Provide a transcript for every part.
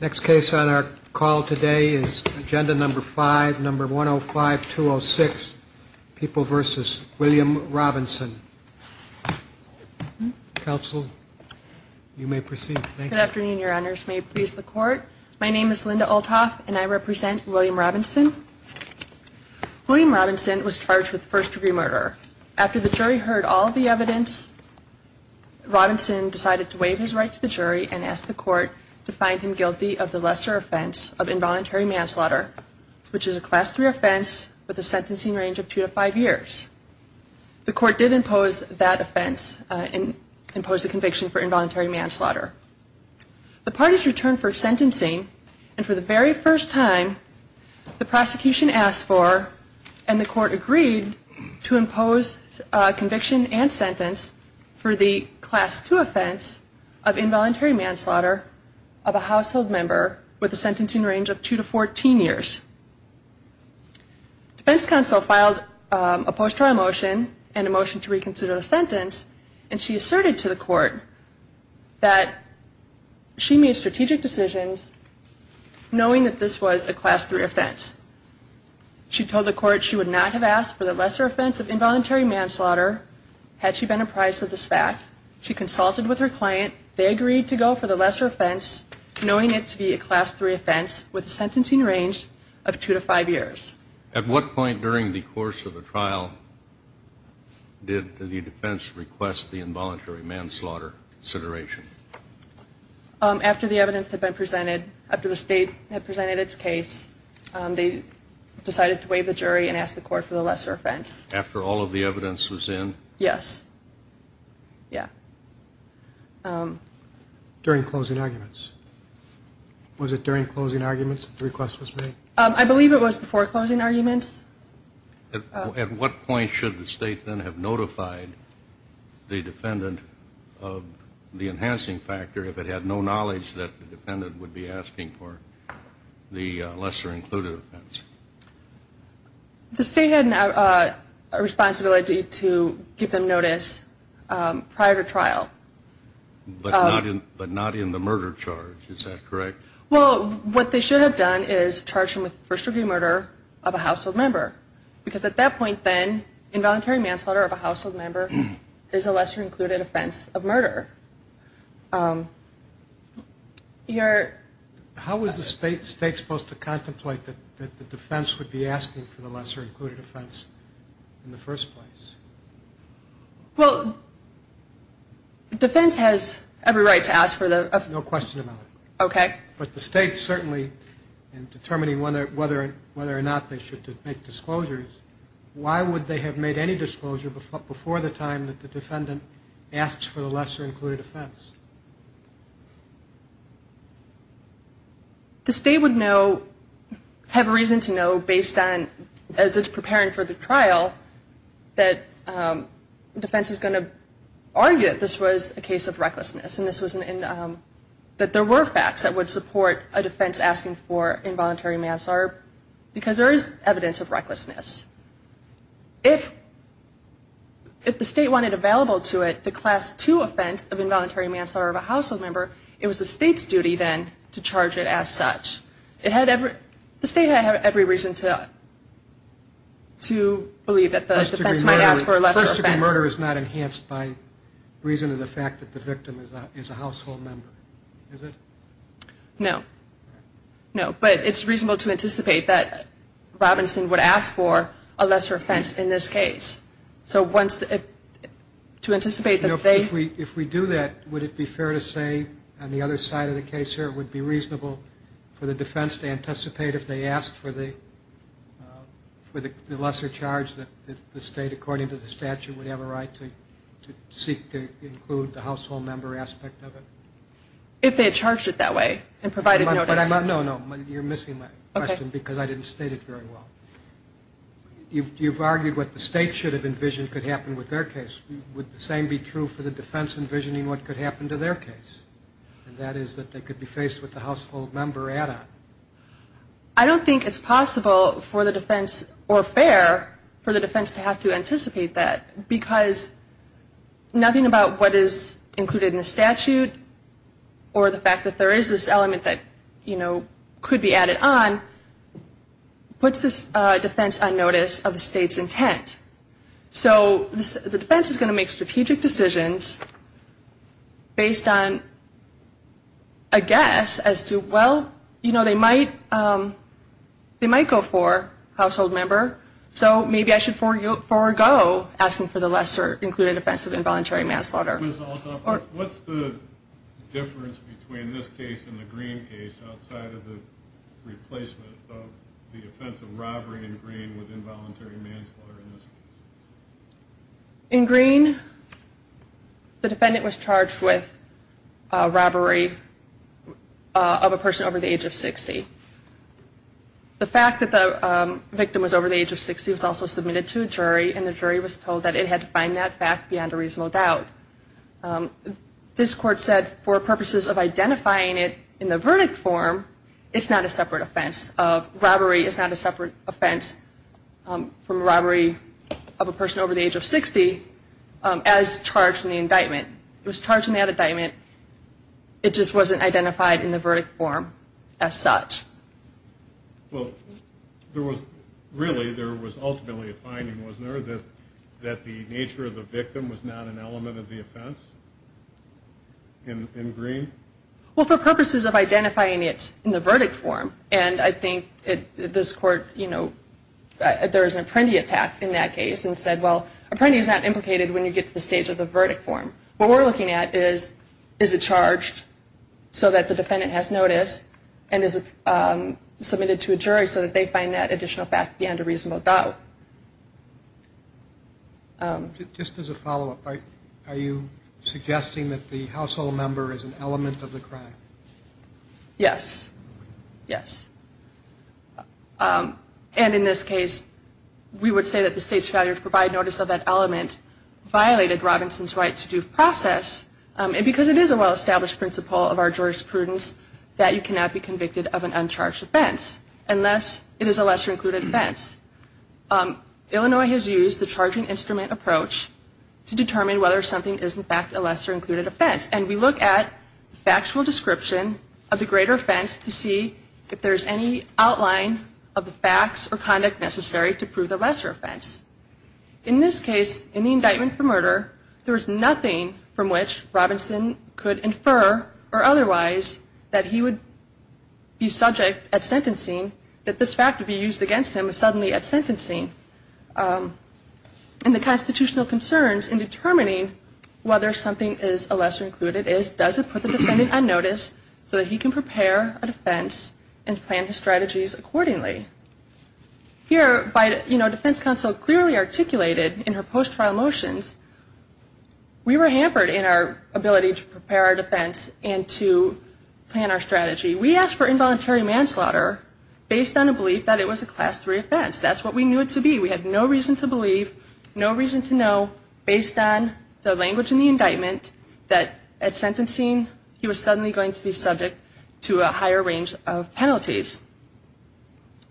Next case on our call today is Agenda No. 5, No. 105206, People v. William Robinson. Counsel, you may proceed. Thank you. Good afternoon, Your Honors. May it please the Court? My name is Linda Olthoff, and I represent William Robinson. William Robinson was charged with first-degree murder. After the jury heard all of the evidence, Robinson decided to waive his right to the jury and asked the Court to find him guilty of the lesser offense of involuntary manslaughter, which is a Class III offense with a sentencing range of two to five years. The Court did impose that offense and imposed the conviction for involuntary manslaughter. The parties returned for sentencing, and for the very first time, the prosecution asked for and the Court agreed to impose conviction and sentence for the Class II offense of involuntary manslaughter of a household member with a sentencing range of two to 14 years. Defense counsel filed a post-trial motion and a motion to reconsider the sentence, and she asserted to the Court that she made strategic decisions knowing that this was a Class III offense. She told the Court she would not have asked for the lesser offense of involuntary manslaughter had she been apprised of this fact. She consulted with her client. They agreed to go for the lesser offense knowing it to be a Class III offense with a sentencing range of two to five years. At what point during the course of the trial did the defense request the involuntary manslaughter consideration? After the evidence had been presented, after the State had presented its case, they decided to waive the jury and ask the Court for the lesser offense. After all of the evidence was in? Yes. Yeah. During closing arguments. Was it during closing arguments that the request was made? I believe it was before closing arguments. At what point should the State then have notified the defendant of the enhancing factor if it had no knowledge that the defendant would be asking for the lesser included offense? The State had a responsibility to give them notice prior to trial. But not in the murder charge. Is that correct? Well, what they should have done is charged him with first-degree murder of a household member because at that point then, involuntary manslaughter of a household member is a lesser included offense of murder. How was the State supposed to contemplate that the defense would be asking for the lesser included offense in the first place? Well, the defense has every right to ask for the- No question about it. Okay. But the State certainly, in determining whether or not they should make disclosures, why would they have made any disclosure before the time that the defendant asks for the lesser included offense? The State would have reason to know based on, as it's preparing for the trial, that the defense is going to argue that this was a case of recklessness and that there were facts that would support a defense asking for involuntary manslaughter because there is evidence of recklessness. If the State wanted available to it the Class II offense of involuntary manslaughter of a household member, it was the State's duty then to charge it as such. The State had every reason to believe that the defense might ask for a lesser offense. But a physical murder is not enhanced by reason of the fact that the victim is a household member, is it? No. No. But it's reasonable to anticipate that Robinson would ask for a lesser offense in this case. So to anticipate that they- If we do that, would it be fair to say, on the other side of the case here, it would be reasonable for the defense to anticipate if they asked for the lesser charge that the State, according to the statute, would have a right to seek to include the household member aspect of it? If they had charged it that way and provided notice. No, no. You're missing my question because I didn't state it very well. You've argued what the State should have envisioned could happen with their case. Would the same be true for the defense envisioning what could happen to their case, and that is that they could be faced with the household member add-on? I don't think it's possible for the defense or fair for the defense to have to anticipate that because nothing about what is included in the statute or the fact that there is this element that could be added on puts this defense on notice of the State's intent. So the defense is going to make strategic decisions based on a guess as to, well, you know, they might go for household member, so maybe I should forego asking for the lesser included offense of involuntary manslaughter. Ms. Althoff, what's the difference between this case and the Green case outside of the replacement of the offense of robbery in Green with involuntary manslaughter in this case? In Green, the defendant was charged with robbery of a person over the age of 60. The fact that the victim was over the age of 60 was also submitted to a jury, and the jury was told that it had to find that fact beyond a reasonable doubt. This court said for purposes of identifying it in the verdict form, it's not a separate offense of robbery. It's not a separate offense from robbery of a person over the age of 60 as charged in the indictment. It was charged in the indictment. It just wasn't identified in the verdict form as such. Well, really there was ultimately a finding, wasn't there, that the nature of the victim was not an element of the offense in Green? Well, for purposes of identifying it in the verdict form, and I think this court, you know, there was an apprentice attack in that case and said, well, an apprentice is not implicated when you get to the stage of the verdict form. What we're looking at is, is it charged so that the defendant has notice and is it submitted to a jury so that they find that additional fact beyond a reasonable doubt? Just as a follow-up, are you suggesting that the household member is an element of the crime? Yes. Yes. And in this case, we would say that the state's failure to provide notice of that element violated Robinson's right to due process, and because it is a well-established principle of our jurisprudence that you cannot be convicted of an uncharged offense unless it is a lesser-included offense. Illinois has used the charging instrument approach to determine whether something is in fact a lesser-included offense, and we look at factual description of the greater offense to see if there is any outline of the facts or conduct necessary to prove the lesser offense. In this case, in the indictment for murder, there was nothing from which Robinson could infer or otherwise that he would be subject at sentencing that this fact would be used against him if he was suddenly at sentencing. And the constitutional concerns in determining whether something is a lesser-included is, does it put the defendant on notice so that he can prepare a defense and plan his strategies accordingly? Here, you know, defense counsel clearly articulated in her post-trial motions, we were hampered in our ability to prepare our defense and to plan our strategy. We asked for involuntary manslaughter based on a belief that it was a Class III offense. That's what we knew it to be. We had no reason to believe, no reason to know, based on the language in the indictment, that at sentencing he was suddenly going to be subject to a higher range of penalties.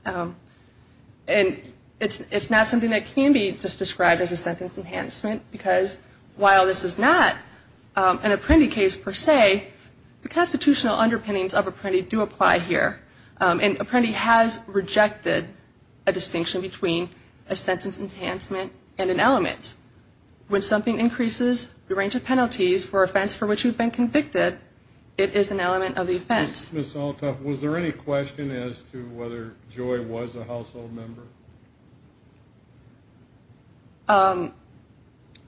And it's not something that can be just described as a sentence enhancement, because while this is not an Apprendi case per se, the constitutional underpinnings of Apprendi do apply here. And Apprendi has rejected a distinction between a sentence enhancement and an element. When something increases the range of penalties for offense for which you've been convicted, it is an element of the offense. Ms. Althoff, was there any question as to whether Joy was a household member?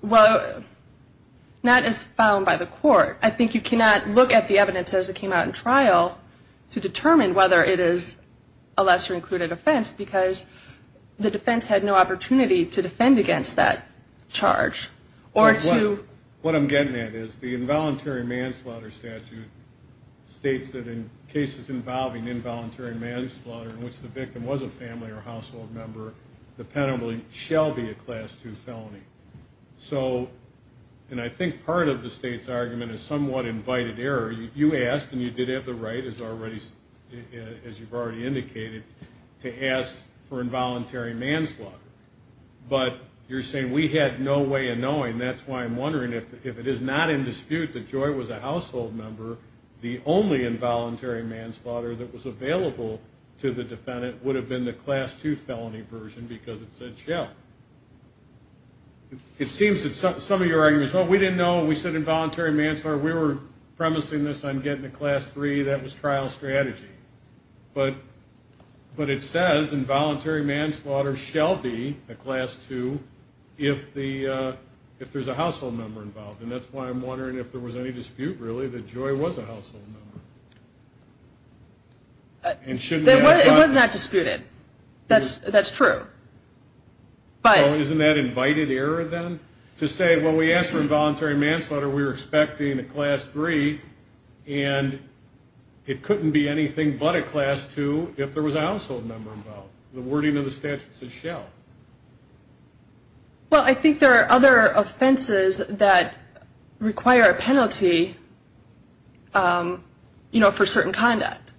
Well, that is found by the court. I think you cannot look at the evidence as it came out in trial to determine whether it is a lesser included offense, because the defense had no opportunity to defend against that charge. What I'm getting at is the involuntary manslaughter statute states that in cases involving involuntary manslaughter in which the victim was a family or household member, the penalty shall be a Class II felony. And I think part of the state's argument is somewhat invited error. You asked, and you did have the right, as you've already indicated, to ask for involuntary manslaughter. But you're saying we had no way of knowing. That's why I'm wondering if it is not in dispute that Joy was a household member, the only involuntary manslaughter that was available to the defendant would have been the Class II felony version because it said shall. It seems that some of your argument is, well, we didn't know. We said involuntary manslaughter. We were premising this on getting to Class III. That was trial strategy. But it says involuntary manslaughter shall be a Class II if there's a household member involved. And that's why I'm wondering if there was any dispute, really, that Joy was a household member. It was not disputed. That's true. So isn't that invited error, then, to say, well, we asked for involuntary manslaughter. We were expecting a Class III, and it couldn't be anything but a Class II if there was a household member involved. The wording of the statute says shall. Well, I think there are other offenses that require a penalty, you know, for certain conduct.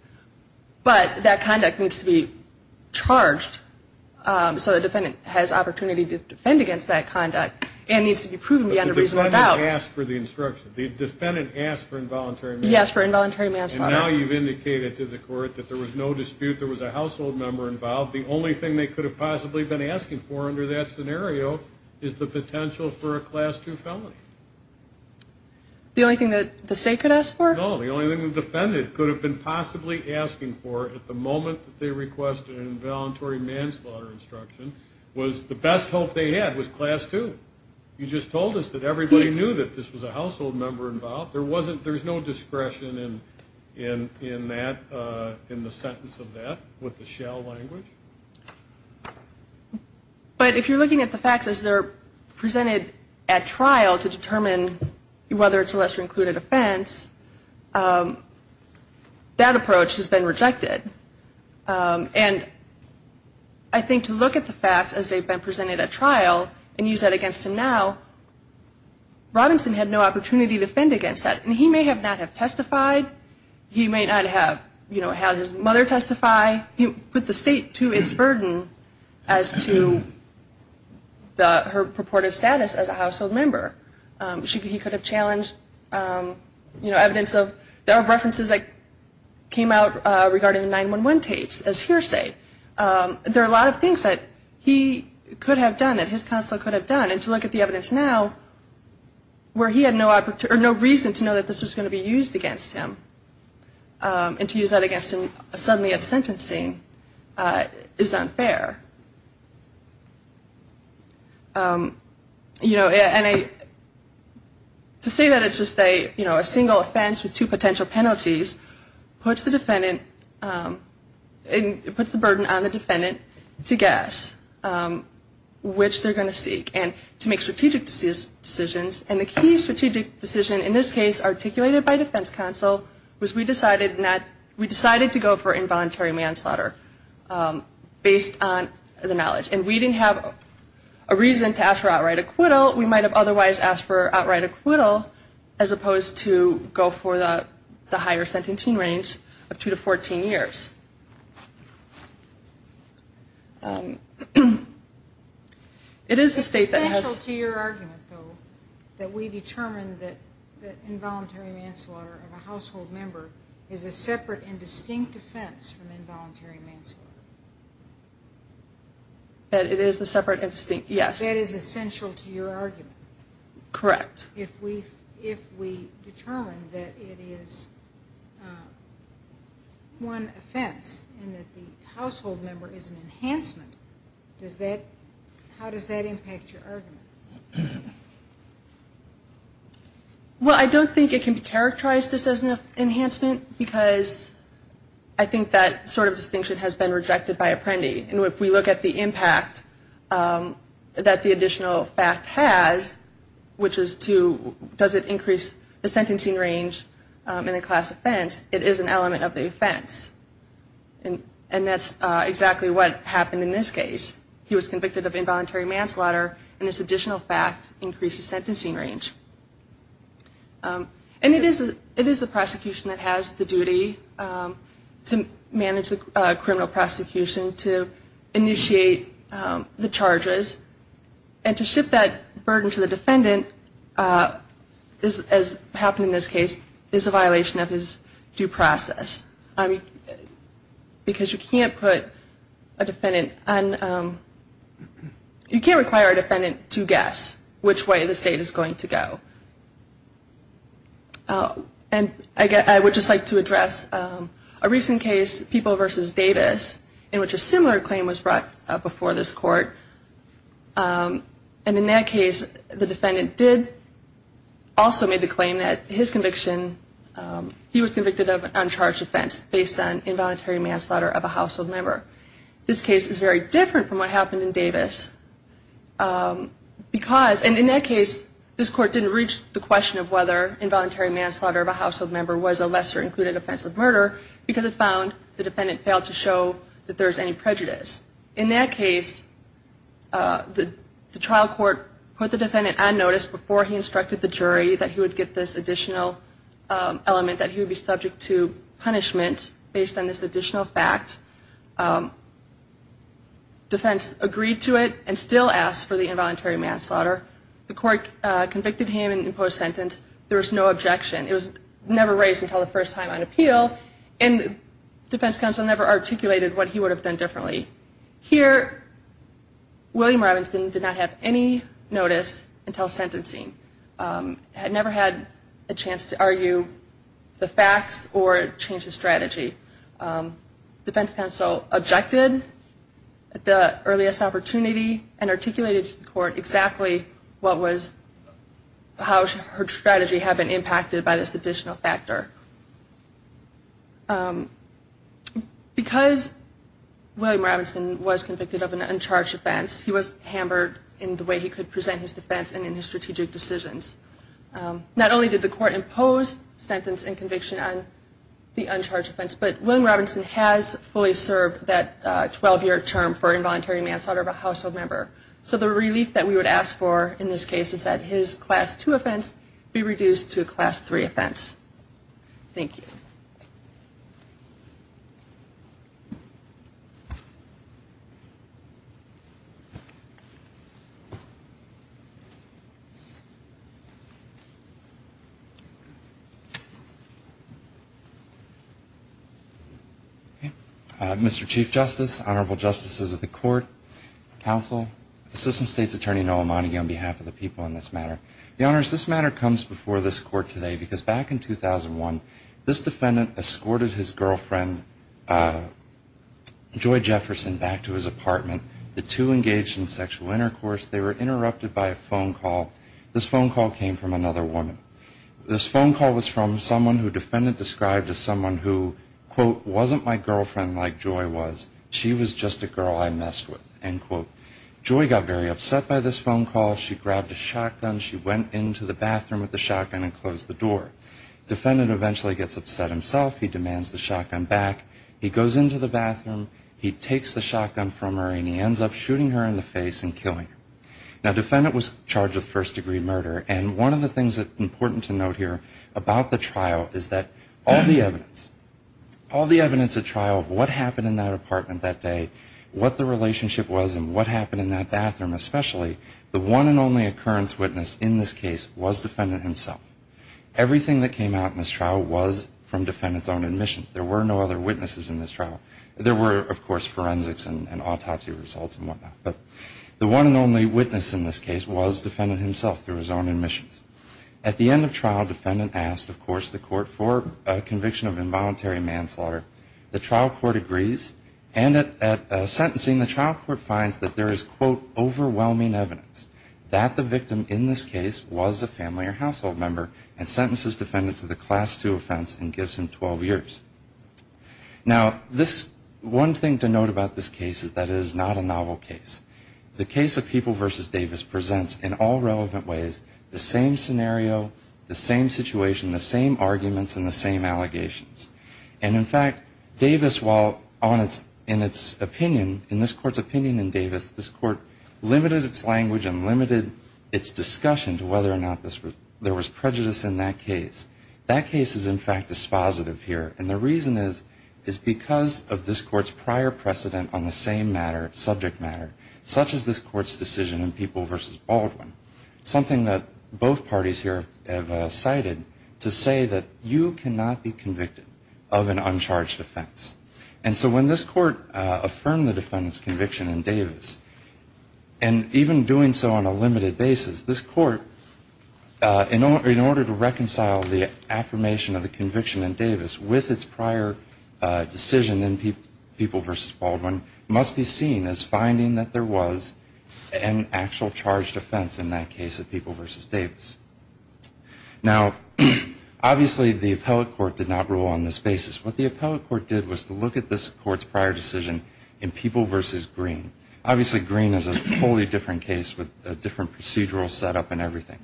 But that conduct needs to be charged so the defendant has opportunity to defend against that conduct and needs to be proven beyond a reasonable doubt. But the defendant asked for the instruction. The defendant asked for involuntary manslaughter. He asked for involuntary manslaughter. And now you've indicated to the court that there was no dispute, there was a household member involved. The only thing they could have possibly been asking for under that scenario is the potential for a Class II felony. The only thing that the state could ask for? No, the only thing the defendant could have been possibly asking for at the moment that they requested an involuntary manslaughter instruction was the best hope they had was Class II. You just told us that everybody knew that this was a household member involved. There's no discretion in the sentence of that with the shall language. But if you're looking at the facts as they're presented at trial to determine whether it's a lesser included offense, that approach has been rejected. And I think to look at the facts as they've been presented at trial and use that against him now, Robinson had no opportunity to defend against that. And he may not have testified. He may not have had his mother testify. He put the state to its burden as to her purported status as a household member. He could have challenged evidence of references that came out regarding the 9-1-1 tapes as hearsay. There are a lot of things that he could have done, that his counsel could have done. And to look at the evidence now where he had no reason to know that this was going to be used against him and to use that against him suddenly at sentencing is unfair. And to say that it's just a single offense with two potential penalties puts the burden on the defendant to guess which they're going to seek and to make strategic decisions. And the key strategic decision in this case articulated by defense counsel was we decided to go for involuntary manslaughter based on the knowledge. And we didn't have a reason to ask for outright acquittal. We might have otherwise asked for outright acquittal as opposed to go for the higher sentencing range of two to 14 years. It is the state that has... It's essential to your argument, though, that we determine that involuntary manslaughter of a household member is a separate and distinct offense from involuntary manslaughter. That it is a separate and distinct, yes. That is essential to your argument. Correct. If we determine that it is one offense and that the household member is an enhancement, how does that impact your argument? Well, I don't think it can be characterized as an enhancement because I think that sort of distinction has been rejected by Apprendi. And if we look at the impact that the additional fact has, which is to does it increase the sentencing range in a class offense, it is an element of the offense. And that's exactly what happened in this case. He was convicted of involuntary manslaughter, and this additional fact increases sentencing range. And it is the prosecution that has the duty to manage the criminal prosecution, to initiate the charges. And to ship that burden to the defendant, as happened in this case, is a violation of his due process. Because you can't put a defendant on, you can't require a defendant to guess which way the state is going to go. And I would just like to address a recent case, People v. Davis, in which a similar claim was brought before this court. And in that case, the defendant did also make the claim that his conviction, he was convicted of an uncharged offense based on involuntary manslaughter of a household member. This case is very different from what happened in Davis. Because, and in that case, this court didn't reach the question of whether involuntary manslaughter of a household member was a lesser included offense of murder, because it found the defendant failed to show that there was any prejudice. In that case, the trial court put the defendant on notice before he instructed the jury that he would get this additional element, that he would be subject to punishment, based on this additional fact. Defense agreed to it and still asked for the involuntary manslaughter. The court convicted him and imposed sentence. There was no objection. It was never raised until the first time on appeal. And the defense counsel never articulated what he would have done differently. Here, William Robinson did not have any notice until sentencing. Had never had a chance to argue the facts or change his strategy. Defense counsel objected at the earliest opportunity and articulated to the court exactly what was, how her strategy had been impacted by this additional factor. Because William Robinson was convicted of an uncharged offense, he was hammered in the way he could present his defense and in his strategic decisions. Not only did the court impose sentence and conviction on the uncharged offense, but William Robinson has fully served that 12-year term for involuntary manslaughter of a household member. So the relief that we would ask for in this case is that his Class 2 offense be reduced to a Class 3 offense. Thank you. Mr. Chief Justice, Honorable Justices of the Court, Counsel, Assistant State's Attorney Noah Monaghan on behalf of the people on this matter. Your Honor, this matter comes before this Court today because back in 2001, this defendant escorted his girlfriend Joy Jefferson back to his apartment. The two engaged in sexual intercourse. They were interrupted by a phone call. This phone call came from another woman. This phone call was from someone who defendant described as someone who, quote, wasn't my girlfriend like Joy was. She was just a girl I messed with, end quote. Joy got very upset by this phone call. She grabbed a shotgun. She went into the bathroom with the shotgun and closed the door. Defendant eventually gets upset himself. He demands the shotgun back. He goes into the bathroom. He takes the shotgun from her, and he ends up shooting her in the face and killing her. Now, defendant was charged with first-degree murder, and one of the things that's important to note here about the trial is that all the evidence, all the evidence at trial of what happened in that apartment that day, what the relationship was, and what happened in that bathroom, especially the one and only occurrence witness in this case was defendant himself. Everything that came out in this trial was from defendant's own admissions. There were no other witnesses in this trial. There were, of course, forensics and autopsy results and whatnot. But the one and only witness in this case was defendant himself through his own admissions. At the end of trial, defendant asked, of course, the court for a conviction of involuntary manslaughter. The trial court agrees. And at sentencing, the trial court finds that there is, quote, overwhelming evidence that the victim in this case was a family or household member and sentences defendant to the Class II offense and gives him 12 years. Now, this one thing to note about this case is that it is not a novel case. The case of People v. Davis presents in all relevant ways the same scenario, the same situation, the same arguments, and the same allegations. And, in fact, Davis, while in its opinion, in this court's opinion in Davis, this court limited its language and limited its discussion to whether or not there was prejudice in that case. That case is, in fact, dispositive here. And the reason is because of this court's prior precedent on the same matter, subject matter, such as this court's decision in People v. Baldwin, something that both parties here have cited to say that you cannot be convicted of an uncharged offense. And so when this court affirmed the defendant's conviction in Davis, and even doing so on a limited basis, this court, in order to reconcile the affirmation of the conviction in Davis with its prior decision in People v. Baldwin, must be seen as finding that there was an actual charged offense in that case of People v. Davis. Now, obviously, the appellate court did not rule on this basis. What the appellate court did was to look at this court's prior decision in People v. Green. Obviously, Green is a wholly different case with a different procedural setup and everything.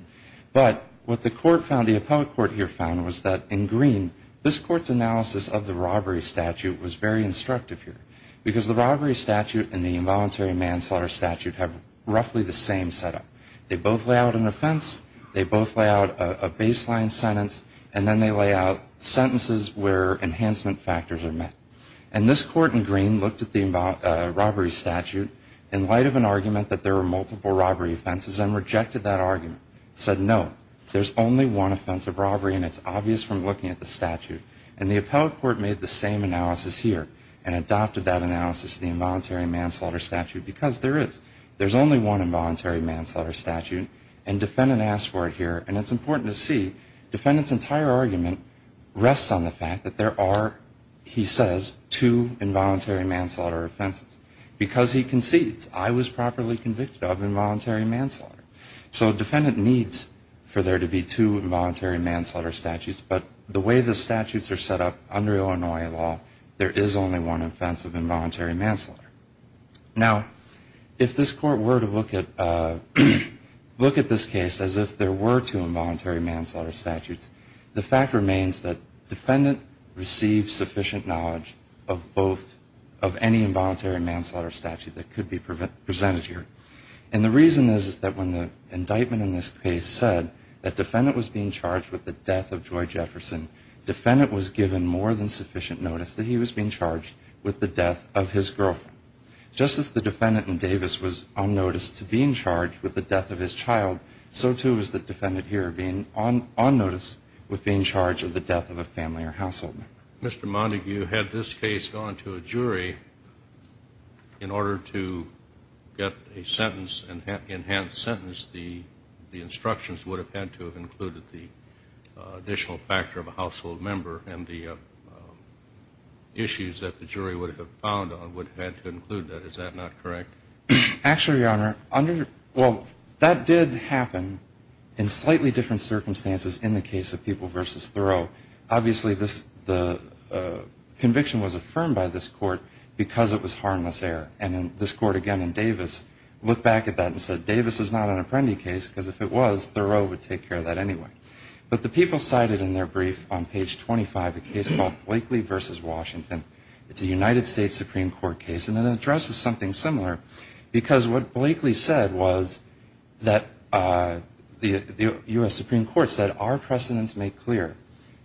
But what the court found, the appellate court here found, was that in Green, this court's analysis of the robbery statute was very instructive here because the robbery statute and the involuntary manslaughter statute have roughly the same setup. They both lay out an offense, they both lay out a baseline sentence, and then they lay out sentences where enhancement factors are met. And this court in Green looked at the robbery statute in light of an argument that there were multiple robbery offenses and rejected that argument. It said, no, there's only one offense of robbery, and it's obvious from looking at the statute. And the appellate court made the same analysis here and adopted that analysis of the involuntary manslaughter statute because there is. There's only one involuntary manslaughter statute, and defendant asked for it here. And it's important to see defendant's entire argument rests on the fact that there are, he says, two involuntary manslaughter offenses. Because he concedes, I was properly convicted of involuntary manslaughter. So defendant needs for there to be two involuntary manslaughter statutes, but the way the statutes are set up under Illinois law, there is only one offense of involuntary manslaughter. Now, if this court were to look at this case as if there were two involuntary manslaughter statutes, the fact remains that defendant received sufficient knowledge of both, of any involuntary manslaughter statute that could be presented here. And the reason is that when the indictment in this case said that defendant was being charged with the death of Joy Jefferson, defendant was given more than sufficient notice that he was being charged with the death of his girlfriend. Just as the defendant in Davis was on notice to being charged with the death of his child, so too was the defendant here being on notice with being charged with the death of a family or household. Mr. Montague, had this case gone to a jury in order to get a sentence, the instructions would have had to have included the additional factor of a household member and the issues that the jury would have found on would have had to include that. Is that not correct? Actually, Your Honor, well, that did happen in slightly different circumstances in the case of People v. Thoreau. Obviously, the conviction was affirmed by this court because it was harmless error. And this court, again, in Davis, looked back at that and said, Davis is not an Apprendi case because if it was, Thoreau would take care of that anyway. But the people cited in their brief on page 25 a case called Blakely v. Washington. It's a United States Supreme Court case, and it addresses something similar because what Blakely said was that the U.S. Supreme Court said, our precedents make clear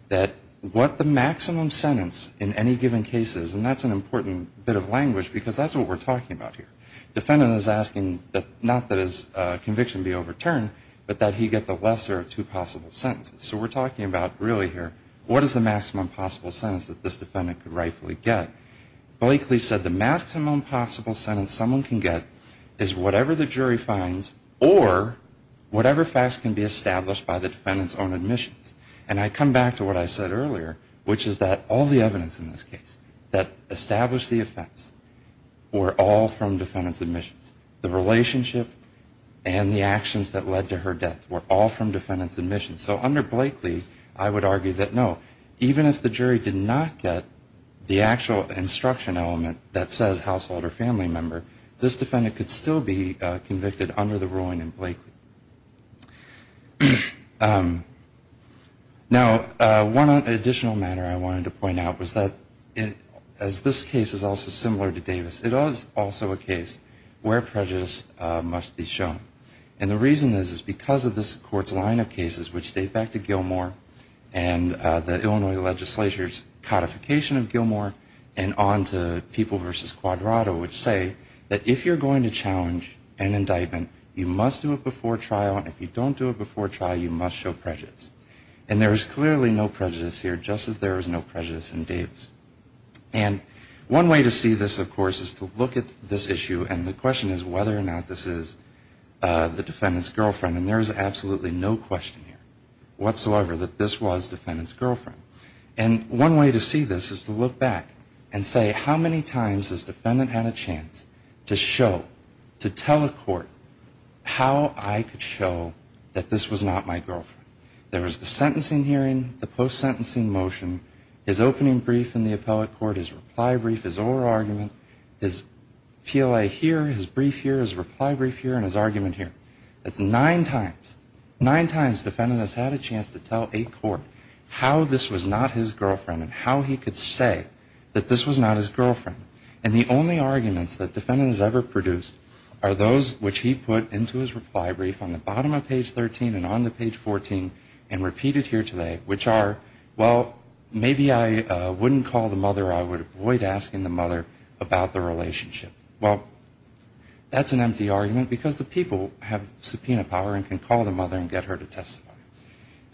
that what the maximum sentence in any given case is, and that's an important bit of language because that's what we're talking about here. Defendant is asking not that his conviction be overturned, but that he get the lesser of two possible sentences. So we're talking about really here what is the maximum possible sentence that this defendant could rightfully get. Blakely said the maximum possible sentence someone can get is whatever the jury finds or whatever facts can be established by the defendant's own admissions. And I come back to what I said earlier, which is that all the evidence in this case, that established the offense, were all from defendant's admissions. The relationship and the actions that led to her death were all from defendant's admissions. So under Blakely, I would argue that, no, even if the jury did not get the actual instruction element that says household or family member, this defendant could still be convicted under the ruling in Blakely. Now, one additional matter I wanted to point out was that, as this case is also similar to Davis, it is also a case where prejudice must be shown. And the reason is because of this court's line of cases, which date back to Gilmore and the Illinois legislature's codification of Gilmore and on to People v. Quadrato, which say that if you're going to challenge an indictment, you must do it before trial, and if you don't do it before trial, you must show prejudice. And there is clearly no prejudice here, just as there is no prejudice in Davis. And one way to see this, of course, is to look at this issue, and the question is whether or not this is the defendant's girlfriend. And there is absolutely no question here whatsoever that this was defendant's girlfriend. And one way to see this is to look back and say, how many times has defendant had a chance to show, to tell a court, how I could show that this was not my girlfriend? There was the sentencing hearing, the post-sentencing motion, his opening brief in the appellate court, his reply brief, his oral argument, his PLA here, his brief here, his reply brief here, and his argument here. That's nine times. Nine times defendant has had a chance to tell a court how this was not his girlfriend and how he could say that this was not his girlfriend. And the only arguments that defendant has ever produced are those which he put into his reply brief on the bottom of page 13 and on to page 14 and repeated here today, which are, well, maybe I wouldn't call the mother or I would avoid asking the mother about the relationship. Well, that's an empty argument because the people have subpoena power and can call the mother and get her to testify.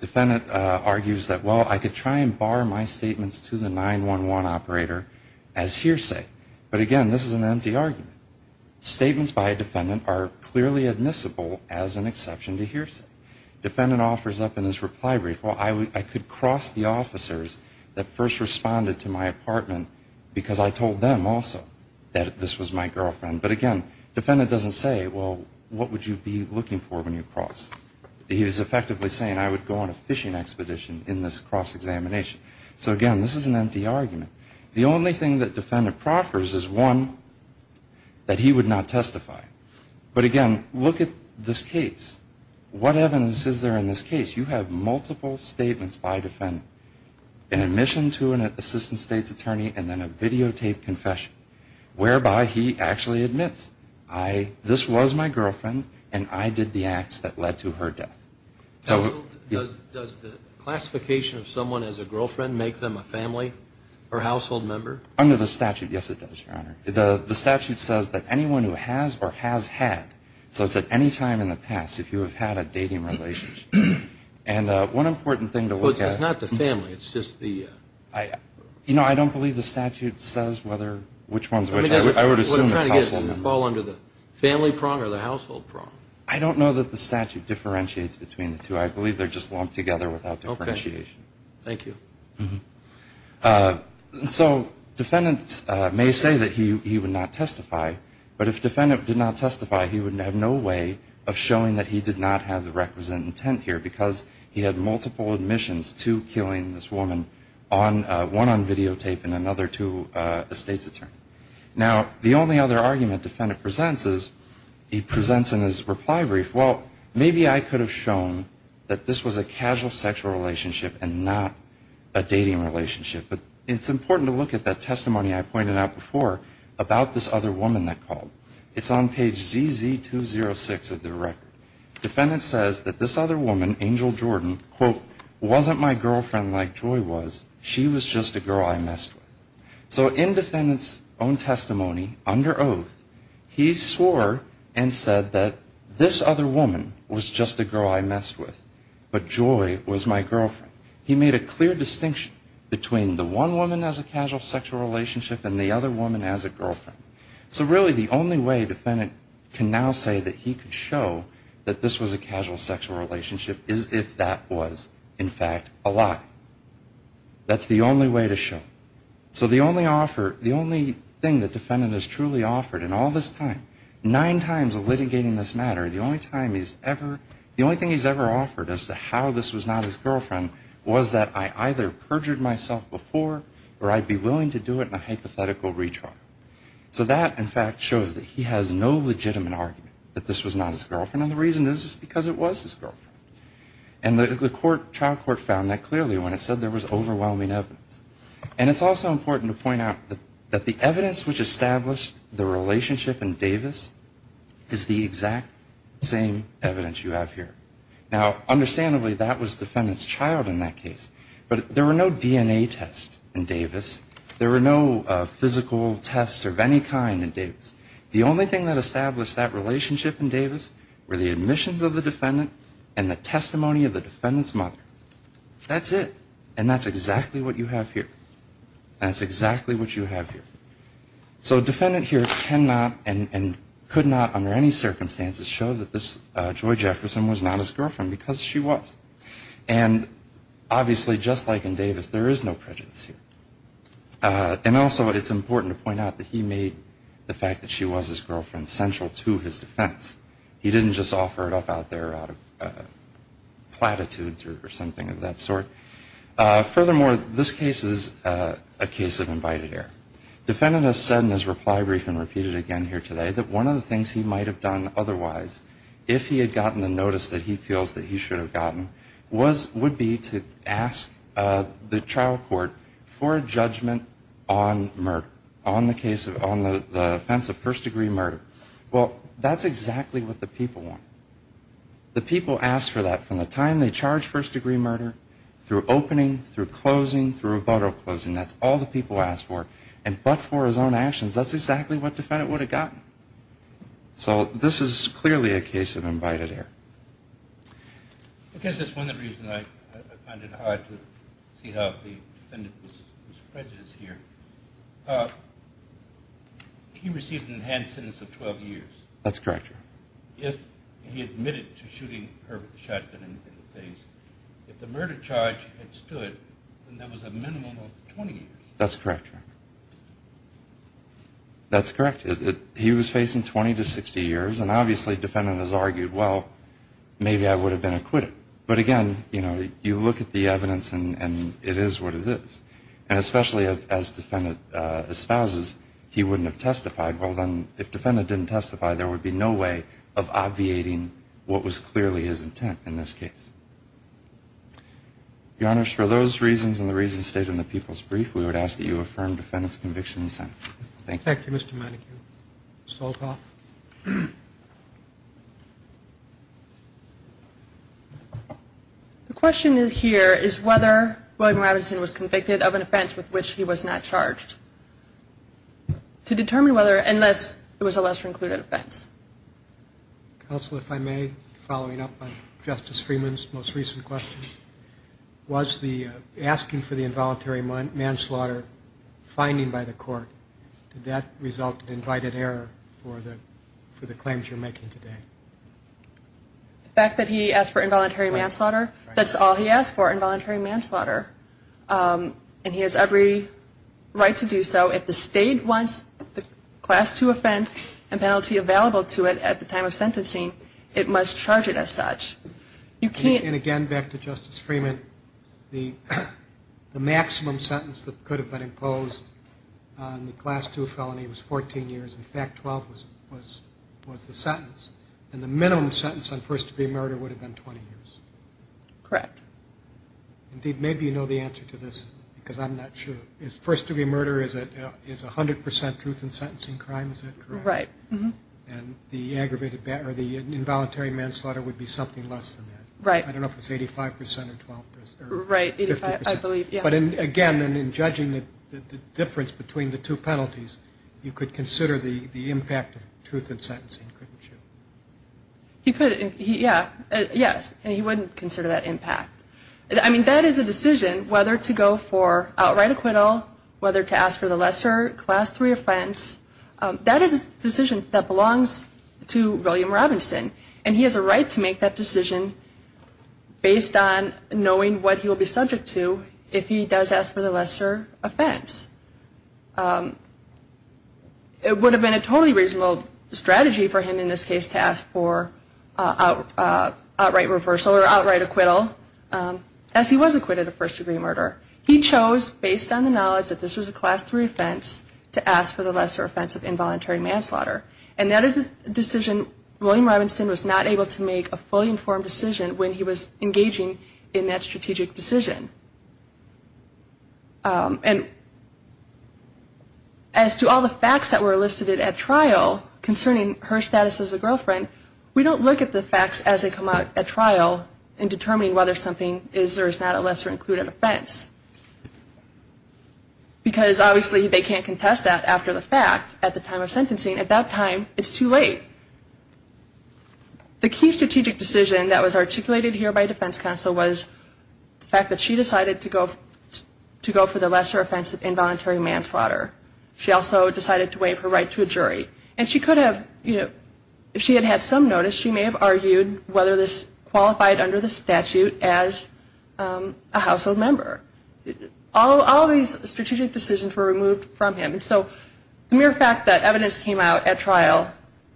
Defendant argues that, well, I could try and bar my statements to the 911 operator as hearsay. But, again, this is an empty argument. Statements by a defendant are clearly admissible as an exception to hearsay. Defendant offers up in his reply brief, well, I could cross the officers that first responded to my apartment because I told them also that this was my girlfriend. But, again, defendant doesn't say, well, what would you be looking for when you cross? He is effectively saying I would go on a fishing expedition in this cross-examination. So, again, this is an empty argument. The only thing that defendant proffers is, one, that he would not testify. But, again, look at this case. What evidence is there in this case? You have multiple statements by defendant. An admission to an assistant state's attorney and then a videotaped confession whereby he actually admits, this was my girlfriend and I did the acts that led to her death. Does the classification of someone as a girlfriend make them a family or household member? Under the statute, yes, it does, Your Honor. The statute says that anyone who has or has had, so it's at any time in the past, if you have had a dating relationship. And one important thing to look at. It's not the family, it's just the? You know, I don't believe the statute says which one is which. I would assume it's household member. Would it fall under the family prong or the household prong? I don't know that the statute differentiates between the two. I believe they're just lumped together without differentiation. Okay. Thank you. So, defendant may say that he would not testify. But if defendant did not testify, he would have no way of showing that he did not have the requisite intent here because he had multiple admissions to killing this woman, one on videotape and another to a state's attorney. Now, the only other argument defendant presents is he presents in his reply brief, well, maybe I could have shown that this was a casual sexual relationship and not a dating relationship. But it's important to look at that testimony I pointed out before about this other woman that called. It's on page ZZ206 of the record. Defendant says that this other woman, Angel Jordan, quote, wasn't my girlfriend like Joy was. She was just a girl I messed with. So in defendant's own testimony, under oath, he swore and said that this other woman was just a girl I messed with, but Joy was my girlfriend. He made a clear distinction between the one woman as a casual sexual relationship and the other woman as a girlfriend. So really, the only way defendant can now say that he could show that this was a casual sexual relationship is if that was, in fact, a lie. That's the only way to show. So the only offer, the only thing that defendant has truly offered in all this time, nine times litigating this matter, the only time he's ever, the only thing he's ever offered as to how this was not his girlfriend was that I either perjured myself before or I'd be willing to do it in a hypothetical retrial. So that, in fact, shows that he has no legitimate argument that this was not his girlfriend, and the reason is because it was his girlfriend. And the trial court found that clearly when it said there was overwhelming evidence. And it's also important to point out that the evidence which established the relationship in Davis is the exact same evidence you have here. Now, understandably, that was defendant's child in that case, but there were no DNA tests in Davis. There were no physical tests of any kind in Davis. The only thing that established that relationship in Davis were the admissions of the defendant and the testimony of the defendant's mother. That's it, and that's exactly what you have here. That's exactly what you have here. So defendant here cannot and could not under any circumstances show that this Joy Jefferson was not his girlfriend because she was. And obviously, just like in Davis, there is no prejudice here. And also it's important to point out that he made the fact that she was his girlfriend central to his defense. He didn't just offer it up out there out of platitudes or something of that sort. Furthermore, this case is a case of invited error. Defendant has said in his reply brief and repeated again here today that one of the things he might have done otherwise if he had gotten the notice that he feels that he should have gotten would be to ask the trial court for a judgment on murder, on the offense of first-degree murder. Well, that's exactly what the people want. The people ask for that from the time they charge first-degree murder, through opening, through closing, through rebuttal closing. That's all the people ask for. And but for his own actions, that's exactly what defendant would have gotten. So this is clearly a case of invited error. I guess that's one of the reasons I find it hard to see how the defendant was prejudiced here. He received an enhanced sentence of 12 years. That's correct. If he admitted to shooting Herbert the shotgun in the face, if the murder charge had stood, then that was a minimum of 20 years. That's correct. That's correct. He was facing 20 to 60 years. And obviously defendant has argued, well, maybe I would have been acquitted. But again, you know, you look at the evidence and it is what it is. And especially as defendant espouses, he wouldn't have testified. Well, then if defendant didn't testify, there would be no way of obviating what was clearly his intent in this case. Your Honor, for those reasons and the reasons stated in the people's brief, we would ask that you affirm defendant's conviction and sentence. Thank you. Thank you, Mr. Madigan. Ms. Holtoff. The question here is whether William Robinson was convicted of an offense with which he was not charged. To determine whether, unless it was a lesser included offense. Counsel, if I may, following up on Justice Freeman's most recent questions, was the asking for the involuntary manslaughter finding by the court, did that result in invited error for the claims you're making today? The fact that he asked for involuntary manslaughter, that's all he asked for, involuntary manslaughter. And he has every right to do so. If the state wants the Class II offense and penalty available to it at the time of sentencing, it must charge it as such. And again, back to Justice Freeman, the maximum sentence that could have been imposed on the Class II felony was 14 years. In fact, 12 was the sentence. And the minimum sentence on first-degree murder would have been 20 years. Correct. Indeed, maybe you know the answer to this, because I'm not sure. First-degree murder is 100 percent truth in sentencing crime, is that correct? Right. And the involuntary manslaughter would be something less than that. Right. I don't know if it's 85 percent or 12 percent. Right, 85, I believe, yeah. But again, in judging the difference between the two penalties, you could consider the impact of truth in sentencing, couldn't you? You could, yeah. Yes, and he wouldn't consider that impact. I mean, that is a decision, whether to go for outright acquittal, whether to ask for the lesser Class III offense. That is a decision that belongs to William Robinson, and he has a right to make that decision based on knowing what he will be subject to if he does ask for the lesser offense. It would have been a totally reasonable strategy for him, in this case, to ask for outright reversal or outright acquittal, as he was acquitted of first-degree murder. He chose, based on the knowledge that this was a Class III offense, to ask for the lesser offense of involuntary manslaughter. And that is a decision William Robinson was not able to make, a fully informed decision when he was engaging in that strategic decision. And as to all the facts that were listed at trial concerning her status as a girlfriend, we don't look at the facts as they come out at trial in determining whether something is or is not a lesser-included offense. Because, obviously, they can't contest that after the fact at the time of sentencing. At that time, it's too late. The key strategic decision that was articulated here by defense counsel was the fact that she decided to go for the lesser offense of involuntary manslaughter. She also decided to waive her right to a jury. And she could have, you know, if she had had some notice, she may have argued whether this qualified under the statute as a household member. All these strategic decisions were removed from him. And so the mere fact that evidence came out at trial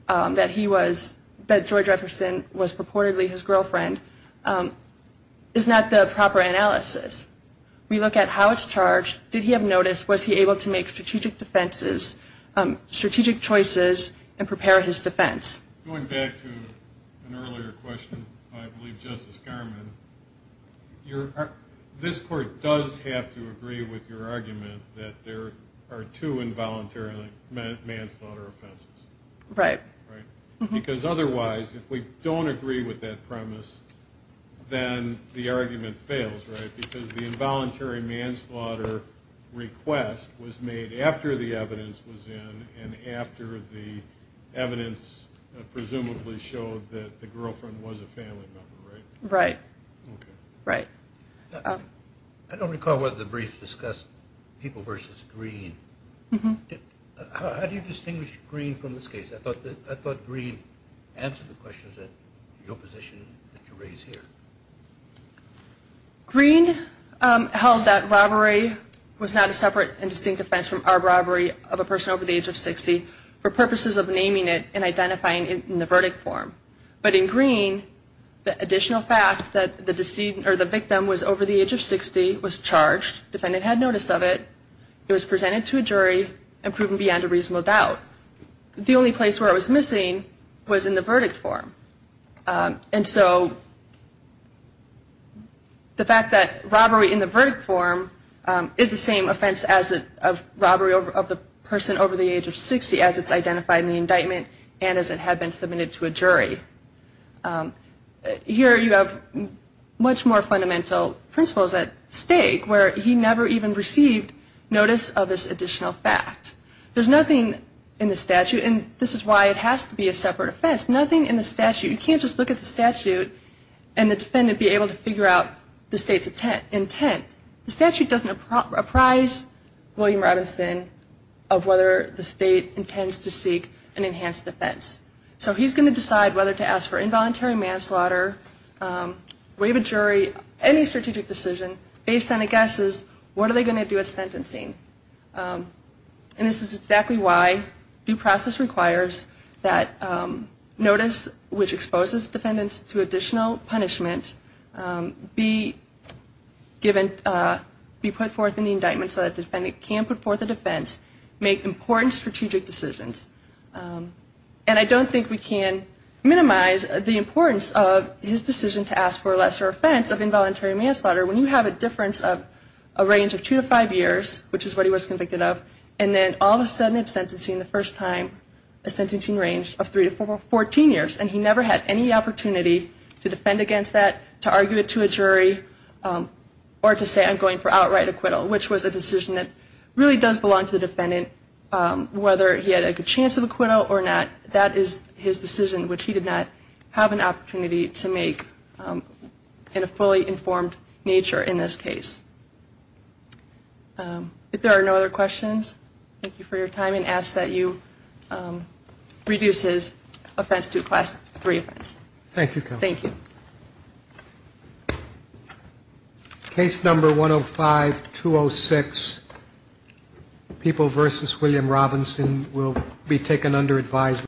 that he was, that George Jefferson was purportedly his girlfriend is not the proper analysis. We look at how it's charged. Did he have notice? Was he able to make strategic defenses, strategic choices, and prepare his defense? Going back to an earlier question, I believe Justice Garmon, this Court does have to agree with your argument that there are two involuntary manslaughter offenses. Right. Right. Because otherwise, if we don't agree with that premise, then the argument fails, right? Because the involuntary manslaughter request was made after the evidence was in and after the evidence presumably showed that the girlfriend was a family member, right? Right. Okay. Right. I don't recall whether the brief discussed people versus green. How do you distinguish green from this case? I thought green answered the questions that your position that you raised here. Green held that robbery was not a separate and distinct offense from a robbery of a person over the age of 60 for purposes of naming it and identifying it in the verdict form. But in green, the additional fact that the victim was over the age of 60, was charged, defendant had notice of it, it was presented to a jury, and proven beyond a reasonable doubt. The only place where it was missing was in the verdict form. And so the fact that robbery in the verdict form is the same offense of robbery of the person over the age of 60 as it's identified in the indictment and as it had been submitted to a jury. Here you have much more fundamental principles at stake where he never even received notice of this additional fact. There's nothing in the statute, and this is why it has to be a separate offense, nothing in the statute. You can't just look at the statute and the defendant be able to figure out the state's intent. The statute doesn't apprise William Robinson of whether the state intends to seek an enhanced offense. So he's going to decide whether to ask for involuntary manslaughter, waive a jury, any strategic decision based on a guess of what are they going to do with sentencing. And this is exactly why due process requires that notice which exposes defendants to additional punishment be given, be put forth in the indictment so that the defendant can put forth a defense, make important strategic decisions. And I don't think we can minimize the importance of his decision to ask for a lesser offense of involuntary manslaughter when you have a difference of a range of two to five years, which is what he was convicted of, and then all of a sudden it's sentencing the first time, a sentencing range of three to 14 years, and he never had any opportunity to defend against that, to argue it to a jury, or to say I'm going for outright acquittal, which was a decision that really does belong to the defendant, whether he had a good chance of acquittal or not. That is his decision, which he did not have an opportunity to make in a fully informed nature in this case. If there are no other questions, thank you for your time, and ask that you reduce his offense to a class three offense. Thank you, counsel. Thank you. Case number 105-206, People v. William Robinson, will be taken under advisement.